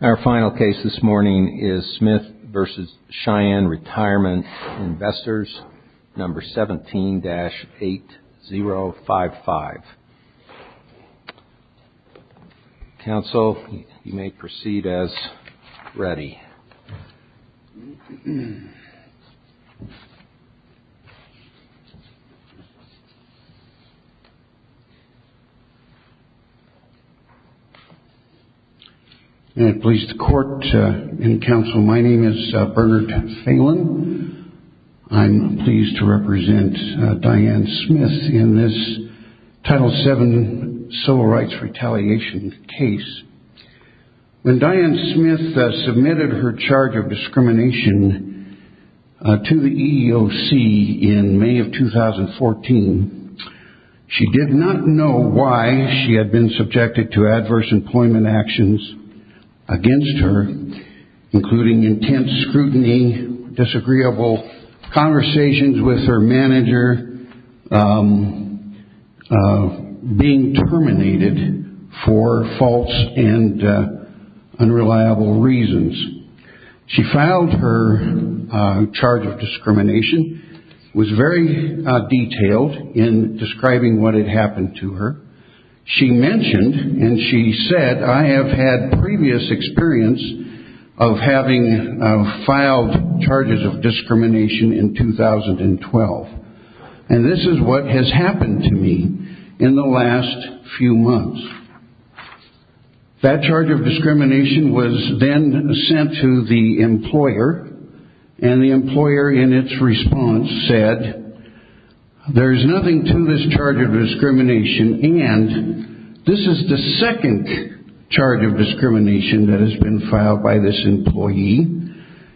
Our final case this morning is Smith v. Cheyenne Retirement Investors 17-8055. Counsel, you may proceed as ready. May it please the court and counsel, my name is Bernard Phelan. I'm pleased to represent Diane Smith in this Title VII Civil Rights Retaliation case. When Diane Smith submitted her charge of discrimination to the EEOC in May of 2014, she did not know why she had been subjected to adverse employment actions against her, including intense scrutiny, disagreeable conversations with her manager, being terminated for false and unreliable reasons. She filed her charge of discrimination, was very detailed in describing what had happened to her. She mentioned and she said, I have had previous experience of having filed charges of discrimination in 2012, and this is what has happened to me in the last few months. That charge of discrimination was then sent to the employer, and the employer in its response said, there's nothing to this charge of discrimination, and this is the second charge of discrimination that has been filed by this employee.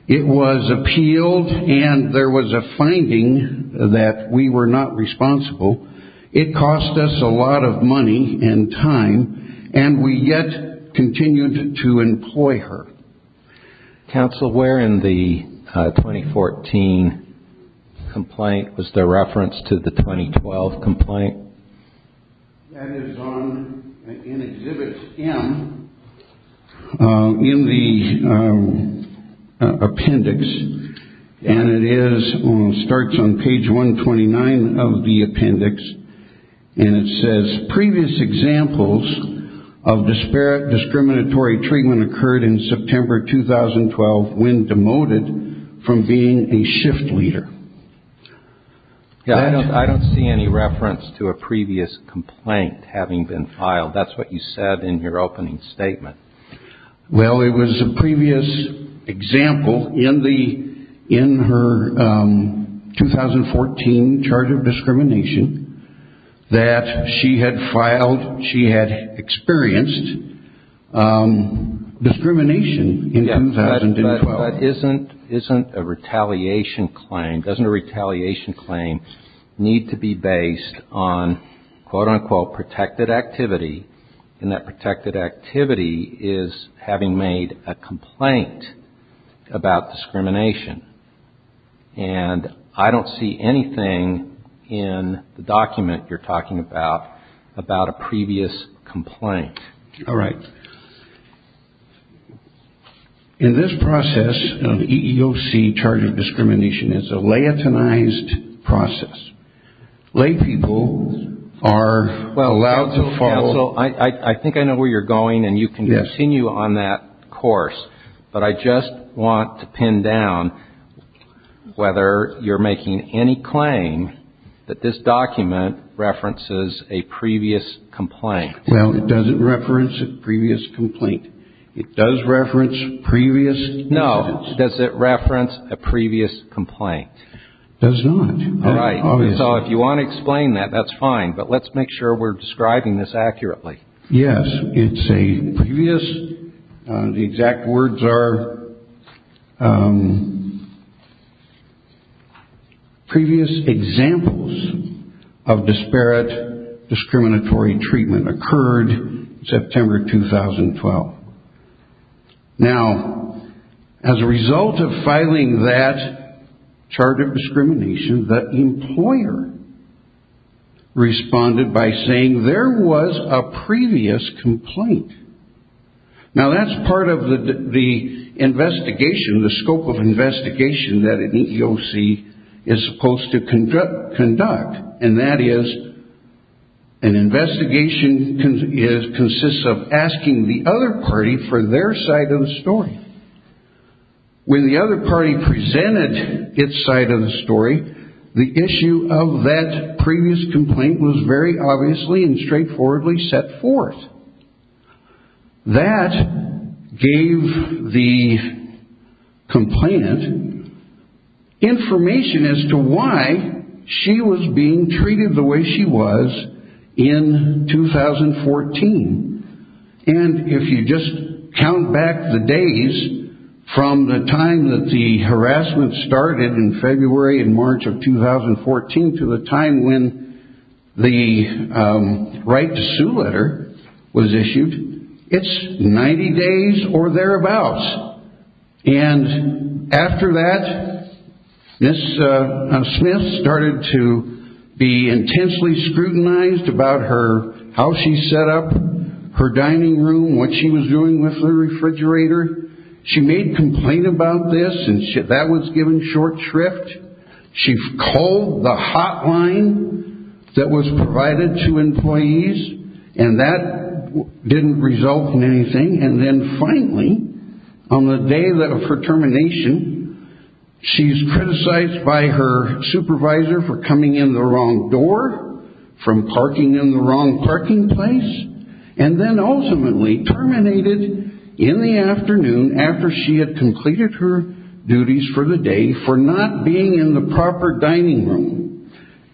It was appealed, and there was a finding that we were not responsible. It cost us a lot of money and time, and we yet continued to employ her. Counsel, where in the 2014 complaint was there reference to the 2012 complaint? That is in Exhibit M in the appendix, and it starts on page 129 of the appendix, and it says, Previous examples of disparate discriminatory treatment occurred in September 2012 when demoted from being a shift leader. I don't see any reference to a previous complaint having been filed. That's what you said in your opening statement. Well, it was a previous example in her 2014 charge of discrimination that she had filed. She had experienced discrimination in 2012. But isn't a retaliation claim, doesn't a retaliation claim need to be based on, quote-unquote, protected activity, and that protected activity is having made a complaint about discrimination? And I don't see anything in the document you're talking about about a previous complaint. All right. In this process of EEOC charge of discrimination, it's a laitonized process. Laid people are allowed to follow. Counsel, I think I know where you're going, and you can continue on that course, but I just want to pin down whether you're making any claim that this document references a previous complaint. Well, it doesn't reference a previous complaint. It does reference previous evidence. No. Does it reference a previous complaint? It does not. All right. So if you want to explain that, that's fine, but let's make sure we're describing this accurately. Yes. It's a previous, the exact words are previous examples of disparate discriminatory treatment occurred September 2012. Now, as a result of filing that charge of discrimination, the employer responded by saying there was a previous complaint. Now, that's part of the investigation, the scope of investigation that an EEOC is supposed to conduct, and that is an investigation consists of asking the other party for their side of the story. When the other party presented its side of the story, the issue of that previous complaint was very obviously and straightforwardly set forth. That gave the complainant information as to why she was being treated the way she was in 2014. And if you just count back the days from the time that the harassment started in February and March of 2014 to the time when the right to sue letter was issued, it's 90 days or thereabouts. And after that, Ms. Smith started to be intensely scrutinized about how she set up her dining room, what she was doing with the refrigerator. She made a complaint about this, and that was given short shrift. She called the hotline that was provided to employees, and that didn't result in anything. And then finally, on the day of her termination, she's criticized by her supervisor for coming in the wrong door, from parking in the wrong parking place, and then ultimately terminated in the afternoon after she had completed her duties for the day for not being in the proper dining room.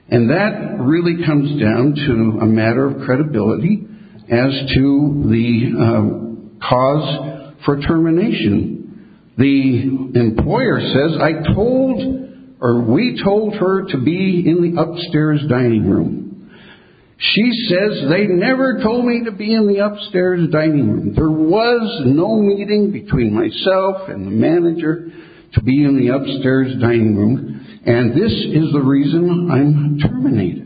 And that really comes down to a matter of credibility as to the cause for termination. The employer says, I told, or we told her to be in the upstairs dining room. She says, they never told me to be in the upstairs dining room. There was no meeting between myself and the manager to be in the upstairs dining room, and this is the reason I'm terminated.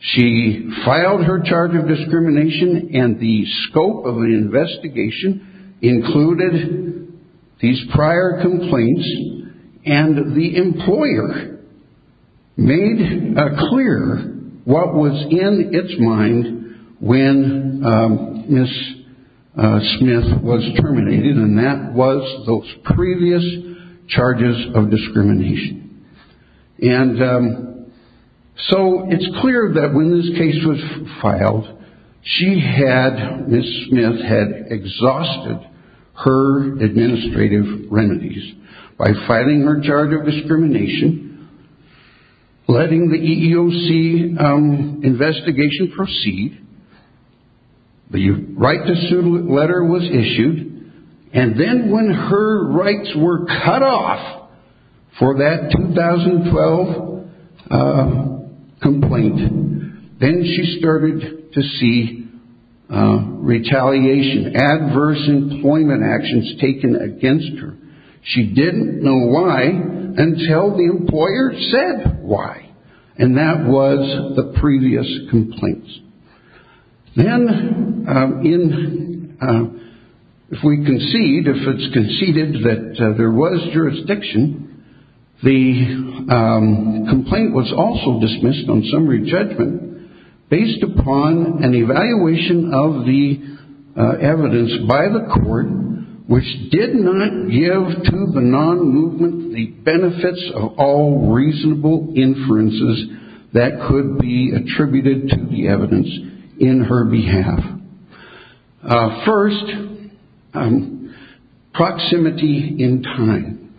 She filed her charge of discrimination, and the scope of the investigation included these prior complaints, and the employer made clear what was in its mind when Ms. Smith was terminated, and that was those previous charges of discrimination. And so it's clear that when this case was filed, she had, Ms. Smith had exhausted her administrative remedies by filing her charge of discrimination, letting the EEOC investigation proceed, the right to sue letter was issued, and then when her rights were cut off for that 2012 complaint, then she started to see retaliation, adverse employment actions taken against her. She didn't know why until the employer said why, and that was the previous complaints. Then if we concede, if it's conceded that there was jurisdiction, the complaint was also dismissed on summary judgment, based upon an evaluation of the evidence by the court, which did not give to the non-movement the benefits of all reasonable inferences that could be attributed to the evidence in her behalf. First, proximity in time.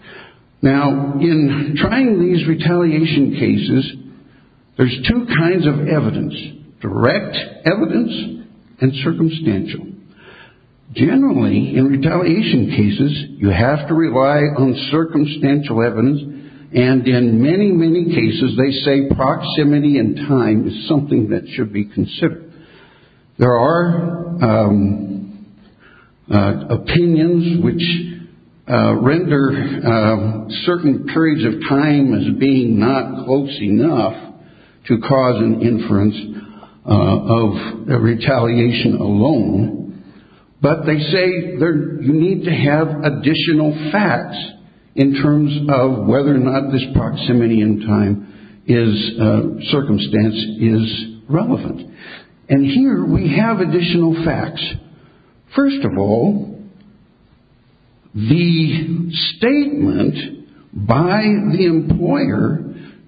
Now, in trying these retaliation cases, there's two kinds of evidence, direct evidence and circumstantial. Generally, in retaliation cases, you have to rely on circumstantial evidence, and in many, many cases they say proximity in time is something that should be considered. There are opinions which render certain periods of time as being not close enough to cause an inference of retaliation alone, but they say you need to have additional facts in terms of whether or not this proximity in time circumstance is relevant. And here we have additional facts. First of all, the statement by the employer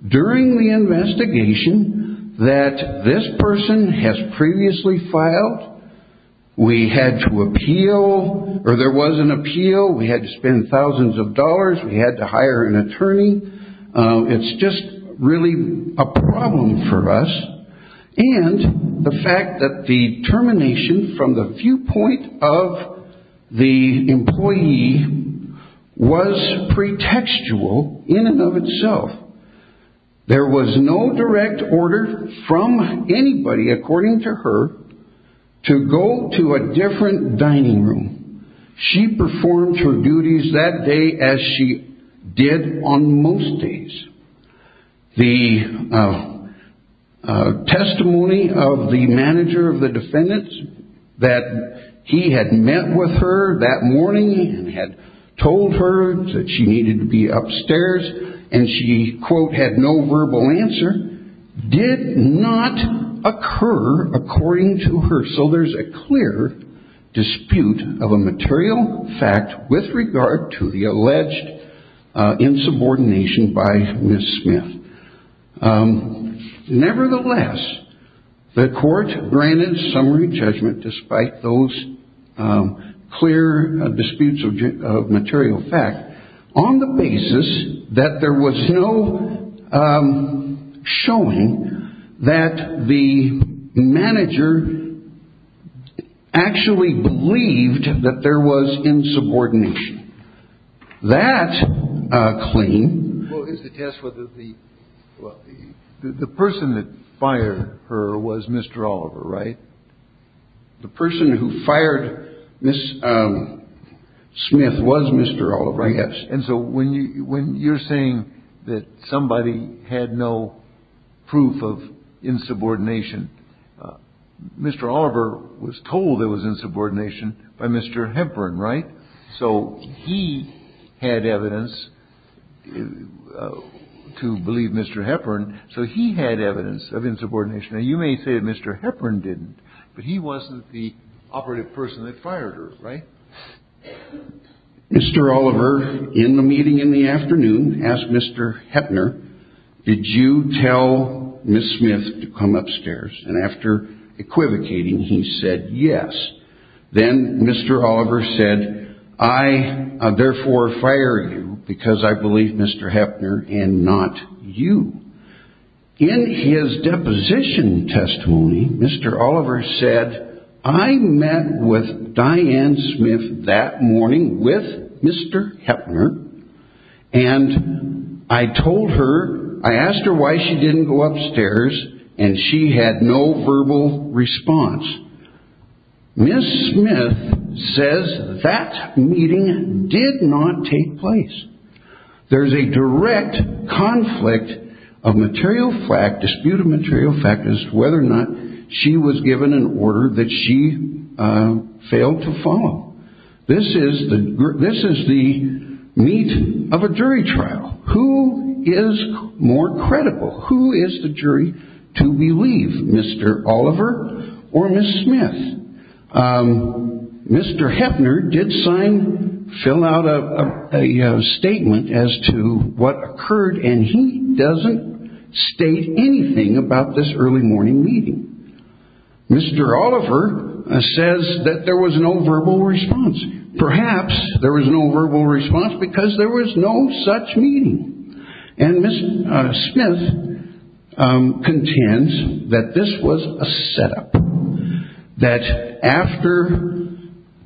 during the investigation that this person has previously filed, we had to appeal, or there was an appeal, we had to spend thousands of dollars, we had to hire an attorney. It's just really a problem for us. And the fact that the termination from the viewpoint of the employee was pretextual in and of itself. There was no direct order from anybody, according to her, to go to a different dining room. She performed her duties that day as she did on most days. The testimony of the manager of the defendants that he had met with her that morning and had told her that she needed to be upstairs and she, quote, had no verbal answer, did not occur according to her. So there's a clear dispute of a material fact with regard to the alleged insubordination by Ms. Smith. Nevertheless, the court granted summary judgment despite those clear disputes of material fact on the basis that there was no showing that the manager actually believed that there was insubordination. That claim is to test whether the person that fired her was Mr. Oliver, right? The person who fired Ms. Smith was Mr. Oliver. Yes. And so when you when you're saying that somebody had no proof of insubordination, Mr. Oliver was told there was insubordination by Mr. Hepburn. Right. So he had evidence to believe Mr. Hepburn. So he had evidence of insubordination. Now, you may say that Mr. Hepburn didn't, but he wasn't the operative person that fired her. Right. Mr. Oliver, in the meeting in the afternoon, asked Mr. Hepburn, did you tell Ms. Smith to come upstairs? And after equivocating, he said yes. Then Mr. Oliver said, I therefore fire you because I believe Mr. Hepburn and not you. In his deposition testimony, Mr. Oliver said, I met with Diane Smith that morning with Mr. Hepburn and I told her I asked her why she didn't go upstairs and she had no verbal response. Ms. Smith says that meeting did not take place. There is a direct conflict of material fact, dispute of material fact as to whether or not she was given an order that she failed to follow. This is the this is the meat of a jury trial. Who is more credible? Who is the jury to believe Mr. Oliver or Ms. Smith? Mr. Hepburn did sign fill out a statement as to what occurred and he doesn't state anything about this early morning meeting. Mr. Oliver says that there was no verbal response. Perhaps there was no verbal response because there was no such meeting. And Ms. Smith contends that this was a setup, that after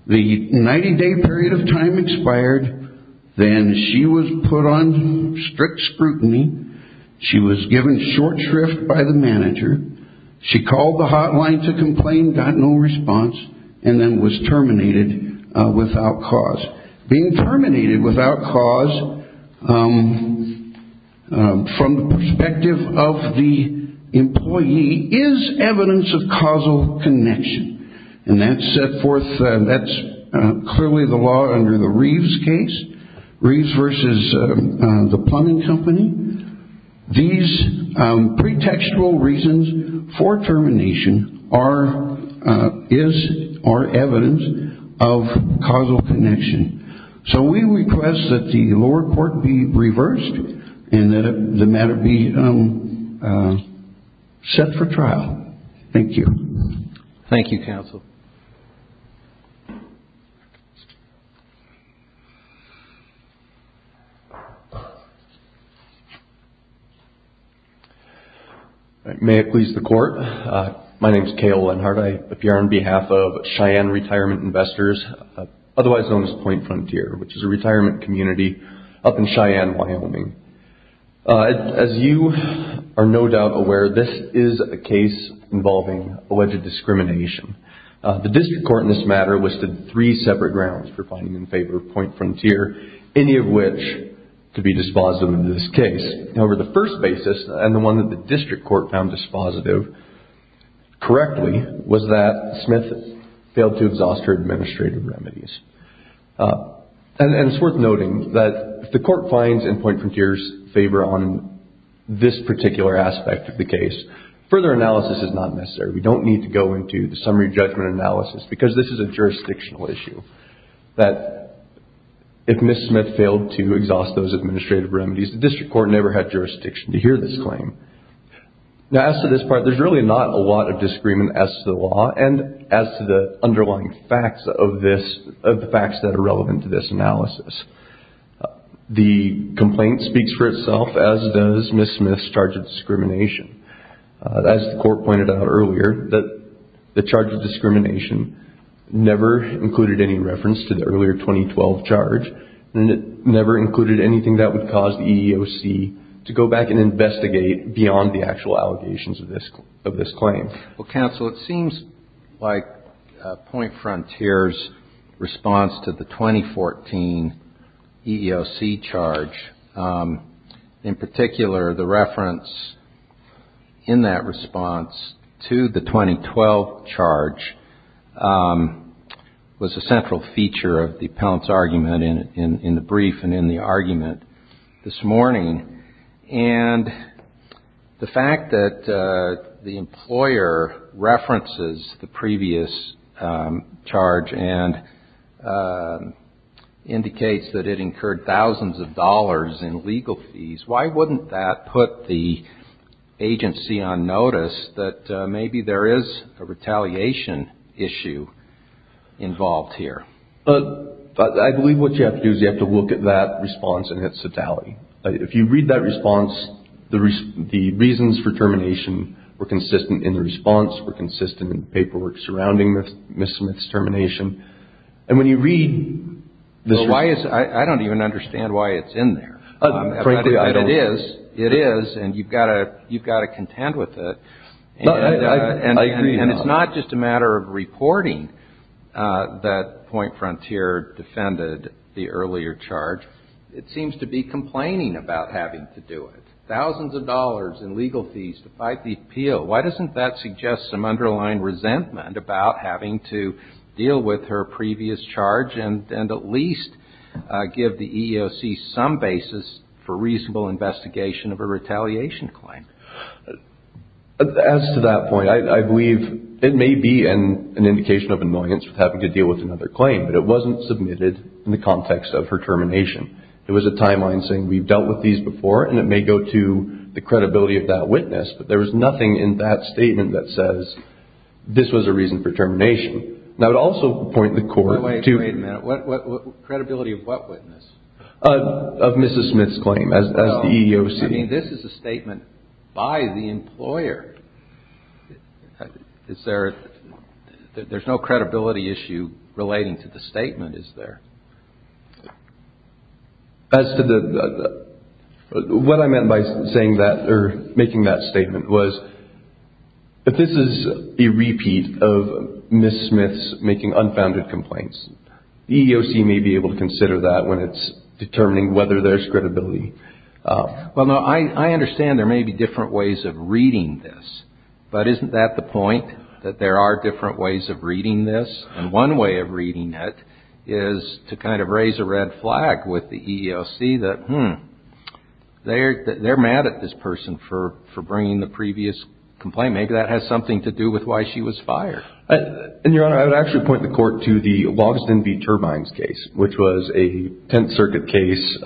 the 90 day period of time expired, then she was put on strict scrutiny. She was given short shrift by the manager. She called the hotline to complain, got no response and then was terminated without cause. Being terminated without cause from the perspective of the employee is evidence of causal connection. And that's set forth. That's clearly the law under the Reeves case. Reeves versus the plumbing company. These pretextual reasons for termination are is or evidence of causal connection. So we request that the lower court be reversed and that the matter be set for trial. Thank you. Thank you, counsel. May it please the court. My name is Cale Lenhart. I appear on behalf of Cheyenne Retirement Investors, otherwise known as Point Frontier, which is a retirement community up in Cheyenne, Wyoming. As you are no doubt aware, this is a case involving alleged discrimination. The district court in this matter listed three separate grounds for finding in favor of Point Frontier, any of which could be dispositive in this case. However, the first basis and the one that the district court found dispositive correctly was that Smith failed to exhaust her administrative remedies. And it's worth noting that if the court finds in Point Frontier's favor on this particular aspect of the case, further analysis is not necessary. We don't need to go into the summary judgment analysis because this is a jurisdictional issue. That if Ms. Smith failed to exhaust those administrative remedies, the district court never had jurisdiction to hear this claim. Now, as to this part, there's really not a lot of disagreement as to the law and as to the underlying facts of this, of the facts that are relevant to this analysis. The complaint speaks for itself, as does Ms. Smith's charge of discrimination. As the court pointed out earlier, the charge of discrimination never included any reference to the earlier 2012 charge. And it never included anything that would cause the EEOC to go back and investigate beyond the actual allegations of this claim. Well, counsel, it seems like Point Frontier's response to the 2014 EEOC charge, in particular the reference in that response to the 2012 charge, was a central feature of the appellant's argument in the brief and in the argument this morning. And the fact that the employer references the previous charge and indicates that it incurred thousands of dollars in legal fees, why wouldn't that put the agency on notice that maybe there is a retaliation issue involved here? But I believe what you have to do is you have to look at that response in its totality. If you read that response, the reasons for termination were consistent in the response, were consistent in the paperwork surrounding Ms. Smith's termination. I don't even understand why it's in there. It is, and you've got to contend with it. And it's not just a matter of reporting that Point Frontier defended the earlier charge. It seems to be complaining about having to do it. Thousands of dollars in legal fees to fight the appeal. Why doesn't that suggest some underlying resentment about having to deal with her previous charge and at least give the EEOC some basis for reasonable investigation of a retaliation claim? As to that point, I believe it may be an indication of annoyance with having to deal with another claim, but it wasn't submitted in the context of her termination. It was a timeline saying we've dealt with these before, and it may go to the credibility of that witness, but there was nothing in that statement that says this was a reason for termination. Now, it also would point the Court to – Wait a minute. Credibility of what witness? Of Ms. Smith's claim as the EEOC. No. I mean, this is a statement by the employer. Is there – there's no credibility issue relating to the statement, is there? As to the – what I meant by saying that or making that statement was if this is a repeat of Ms. Smith's making unfounded complaints, the EEOC may be able to consider that when it's determining whether there's credibility. Well, no, I understand there may be different ways of reading this, but isn't that the point, that there are different ways of reading this? And one way of reading it is to kind of raise a red flag with the EEOC that, hmm, they're mad at this person for bringing the previous complaint. Maybe that has something to do with why she was fired. And, Your Honor, I would actually point the Court to the Logsdon v. Turbines case, which was a Tenth Circuit case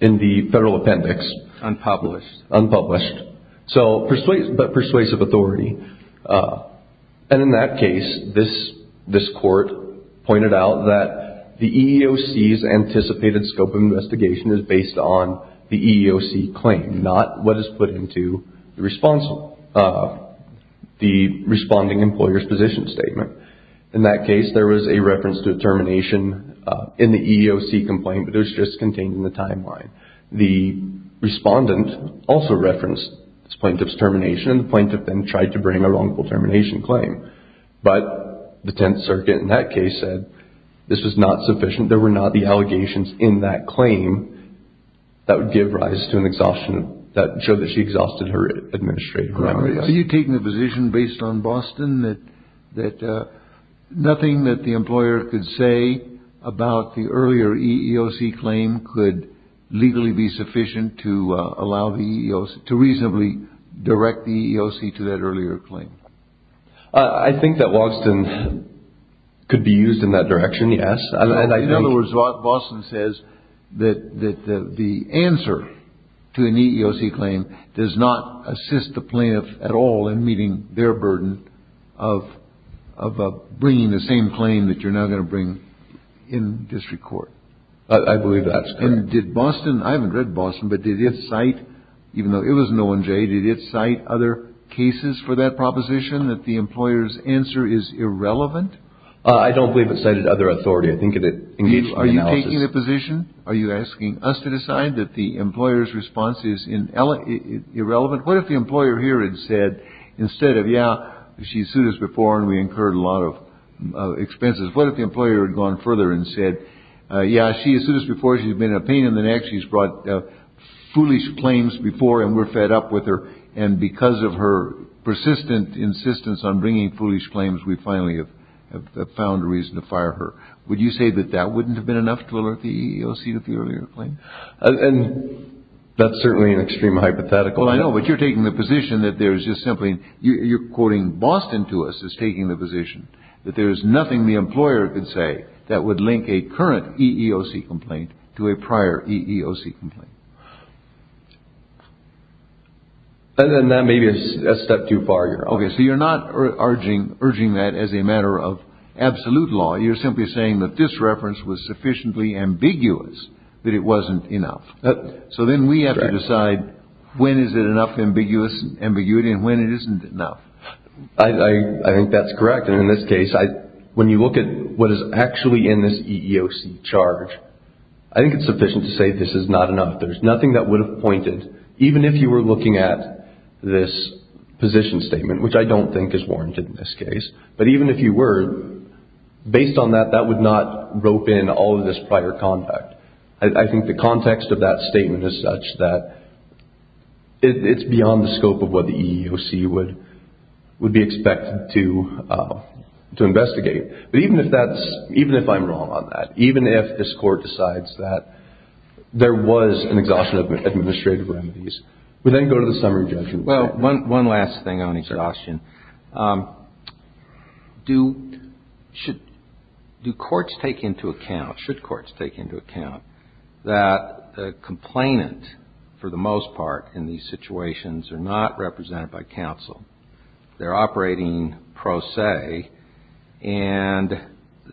in the Federal Appendix. Unpublished. Unpublished, but persuasive authority. And in that case, this Court pointed out that the EEOC's anticipated scope of investigation is based on the EEOC claim, not what is put into the responding employer's position statement. In that case, there was a reference to a termination in the EEOC complaint, but it was just contained in the timeline. The respondent also referenced this plaintiff's termination, and the plaintiff then tried to bring a wrongful termination claim. But the Tenth Circuit in that case said this was not sufficient. There were not the allegations in that claim that would give rise to an exhaustion that showed that she exhausted her administrative memory. Are you taking a position based on Boston that nothing that the employer could say about the earlier EEOC claim could legally be sufficient to allow the EEOC, to reasonably direct the EEOC to that earlier claim? I think that Logsdon could be used in that direction, yes. In other words, Boston says that the answer to an EEOC claim does not assist the plaintiff at all in meeting their burden of bringing the same claim that you're now going to bring in district court. I believe that's correct. And did Boston, I haven't read Boston, but did it cite, even though it was no one jaded, did it cite other cases for that proposition that the employer's answer is irrelevant? I don't believe it cited other authority. I think it engaged our analysis. Are you taking a position? Are you asking us to decide that the employer's response is irrelevant? What if the employer here had said instead of, yeah, she sued us before and we incurred a lot of expenses, what if the employer had gone further and said, yeah, she sued us before, she's been in a pain in the neck, she's brought foolish claims before and we're fed up with her, and because of her persistent insistence on bringing foolish claims, we finally have found a reason to fire her. Would you say that that wouldn't have been enough to alert the EEOC to the earlier claim? And that's certainly an extreme hypothetical. Well, I know, but you're taking the position that there's just simply you're quoting Boston to us as taking the position that there is nothing the employer could say that would link a current EEOC complaint to a prior EEOC complaint. And then that may be a step too far. Okay, so you're not urging that as a matter of absolute law. You're simply saying that this reference was sufficiently ambiguous that it wasn't enough. So then we have to decide when is it enough ambiguity and when it isn't enough. I think that's correct. And in this case, when you look at what is actually in this EEOC charge, I think it's sufficient to say this is not enough. There's nothing that would have pointed, even if you were looking at this position statement, which I don't think is warranted in this case, but even if you were, based on that, that would not rope in all of this prior contact. I think the context of that statement is such that it's beyond the scope of what the EEOC would be expected to investigate. But even if that's, even if I'm wrong on that, even if this Court decides that there was an exhaustion of administrative remedies, we then go to the summary judgment. Well, one last thing on exhaustion. Sure. Do, should, do courts take into account, should courts take into account that the complainant, for the most part in these situations, are not represented by counsel? They're operating pro se, and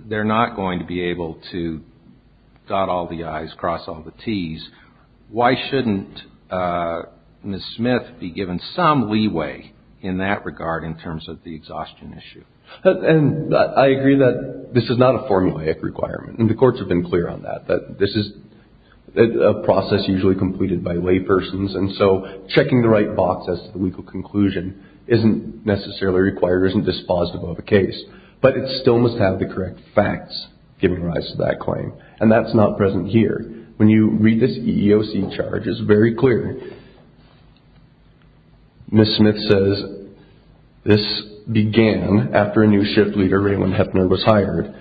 they're not going to be able to dot all the I's, cross all the T's. Why shouldn't Ms. Smith be given some leeway in that regard in terms of the exhaustion issue? And I agree that this is not a formulaic requirement. And the courts have been clear on that, that this is a process usually completed by laypersons. And so, checking the right box as to the legal conclusion isn't necessarily required or isn't dispositive of a case. But it still must have the correct facts giving rise to that claim. And that's not present here. When you read this EEOC charge, it's very clear. Ms. Smith says, this began after a new shift leader, Raymond Heffner, was hired.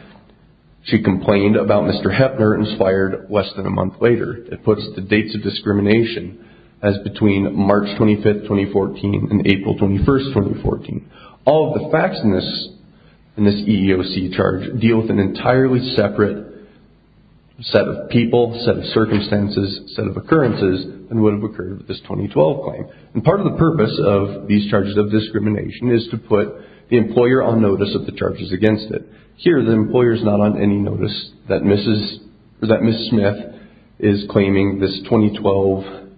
She complained about Mr. Heffner and was fired less than a month later. It puts the dates of discrimination as between March 25, 2014 and April 21, 2014. All of the facts in this EEOC charge deal with an entirely separate set of people, set of circumstances, set of occurrences than would have occurred with this 2012 claim. And part of the purpose of these charges of discrimination is to put the employer on notice of the charges against it. Here, the employer is not on any notice that Ms. Smith is claiming this 2012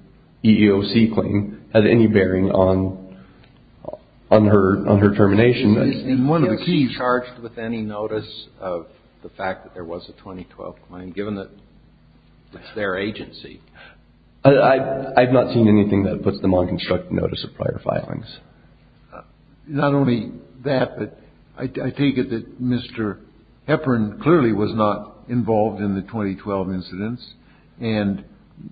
EEOC claim had any bearing on her termination. And one of the keys. Is she charged with any notice of the fact that there was a 2012 claim, given that it's their agency? I've not seen anything that puts them on constructive notice of prior filings. Not only that, but I take it that Mr. Heffner clearly was not involved in the 2012 incidents. And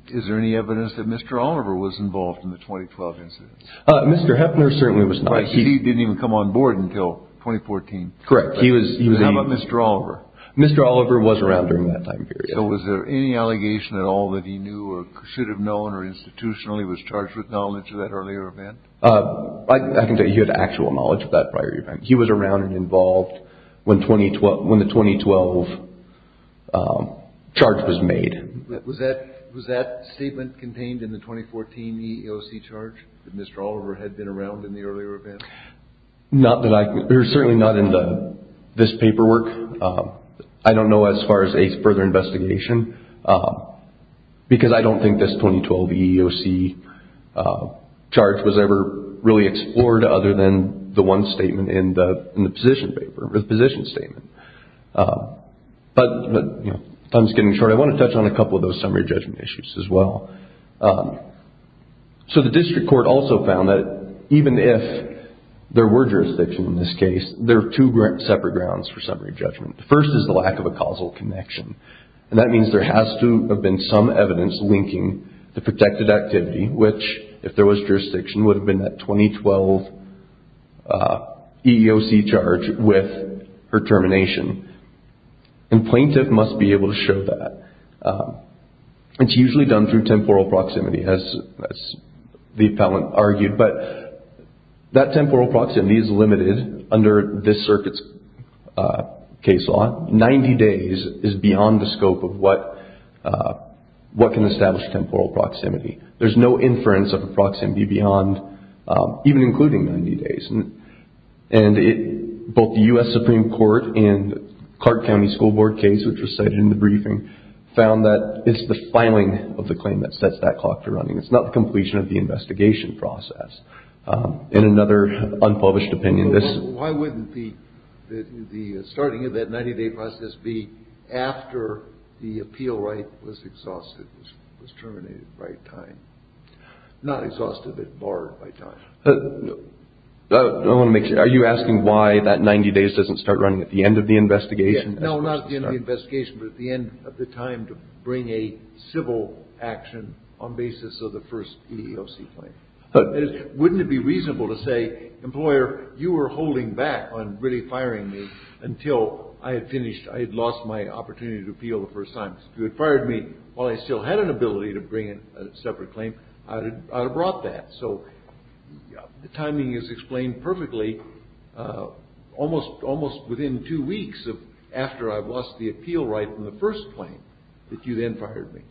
is there any evidence that Mr. Oliver was involved in the 2012 incidents? Mr. Heffner certainly was not. He didn't even come on board until 2014? Correct. How about Mr. Oliver? Mr. Oliver was around during that time period. So was there any allegation at all that he knew or should have known or institutionally was charged with knowledge of that earlier event? I can tell you he had actual knowledge of that prior event. He was around and involved when the 2012 charge was made. Was that statement contained in the 2014 EEOC charge that Mr. Oliver had been around in the earlier event? Certainly not in this paperwork. I don't know as far as a further investigation, because I don't think this 2012 EEOC charge was ever really explored, other than the one statement in the position paper, the position statement. But time is getting short. I want to touch on a couple of those summary judgment issues as well. So the district court also found that even if there were jurisdiction in this case, there are two separate grounds for summary judgment. The first is the lack of a causal connection. And that means there has to have been some evidence linking the protected activity, which, if there was jurisdiction, would have been that 2012 EEOC charge with her termination. And plaintiff must be able to show that. It's usually done through temporal proximity, as the appellant argued. But that temporal proximity is limited under this circuit's case law. Ninety days is beyond the scope of what can establish temporal proximity. There's no inference of a proximity beyond even including 90 days. And both the U.S. Supreme Court and Clark County School Board case, which was cited in the briefing, found that it's the filing of the claim that sets that clock to running. It's not the completion of the investigation process. In another unpublished opinion, this- Why wouldn't the starting of that 90-day process be after the appeal right was exhausted, was terminated by time? Not exhausted, but barred by time. I don't want to make- Are you asking why that 90 days doesn't start running at the end of the investigation? No, not at the end of the investigation, but at the end of the time to bring a civil action on basis of the first EEOC claim. Wouldn't it be reasonable to say, Employer, you were holding back on really firing me until I had finished- I had lost my opportunity to appeal the first time. If you had fired me while I still had an ability to bring a separate claim, I would have brought that. The timing is explained perfectly almost within two weeks after I lost the appeal right in the first claim that you then fired me.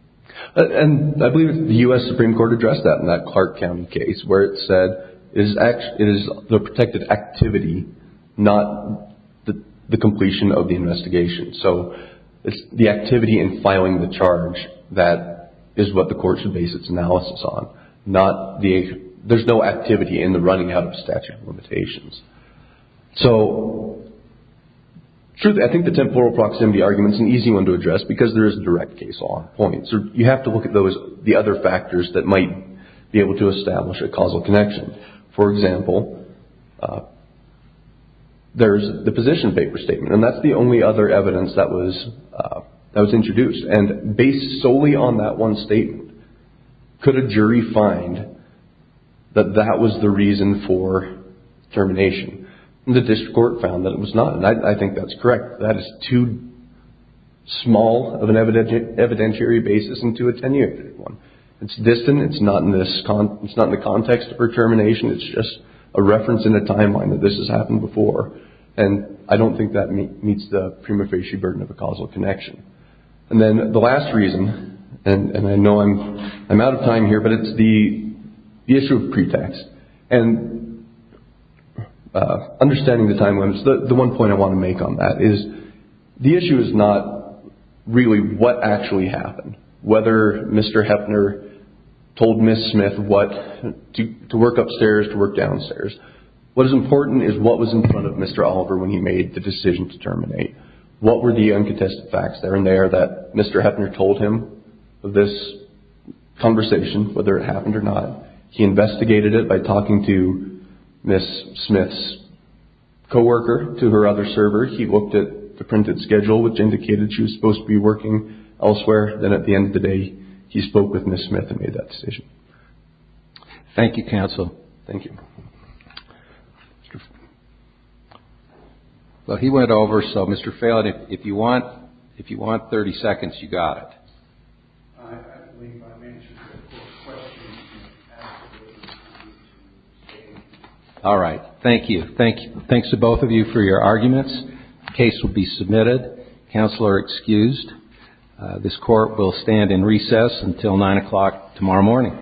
I believe the U.S. Supreme Court addressed that in that Clark County case, where it said it is the protected activity, not the completion of the investigation. It's the activity in filing the charge that is what the court should base its analysis on, not the- there's no activity in the running out of statute of limitations. So, truthfully, I think the temporal proximity argument is an easy one to address because there is a direct case law point. You have to look at the other factors that might be able to establish a causal connection. For example, there's the position paper statement, and that's the only other evidence that was introduced. And based solely on that one statement, could a jury find that that was the reason for termination? The district court found that it was not, and I think that's correct. That is too small of an evidentiary basis and too attenuated one. It's distant. It's not in the context for termination. It's just a reference in a timeline that this has happened before, and I don't think that meets the prima facie burden of a causal connection. And then the last reason, and I know I'm out of time here, but it's the issue of pretext. And understanding the timelines, the one point I want to make on that is the issue is not really what actually happened, whether Mr. Heffner told Ms. Smith what- to work upstairs, to work downstairs. What is important is what was in front of Mr. Oliver when he made the decision to terminate. What were the uncontested facts there and there that Mr. Heffner told him of this conversation, whether it happened or not? He investigated it by talking to Ms. Smith's co-worker to her other server. He looked at the printed schedule, which indicated she was supposed to be working elsewhere. Then at the end of the day, he spoke with Ms. Smith and made that decision. Thank you, counsel. Thank you. Well, he went over, so Mr. Phelan, if you want 30 seconds, you got it. All right. Thank you. Thanks to both of you for your arguments. The case will be submitted. Counsel are excused. This Court will stand in recess until 9 o'clock tomorrow morning.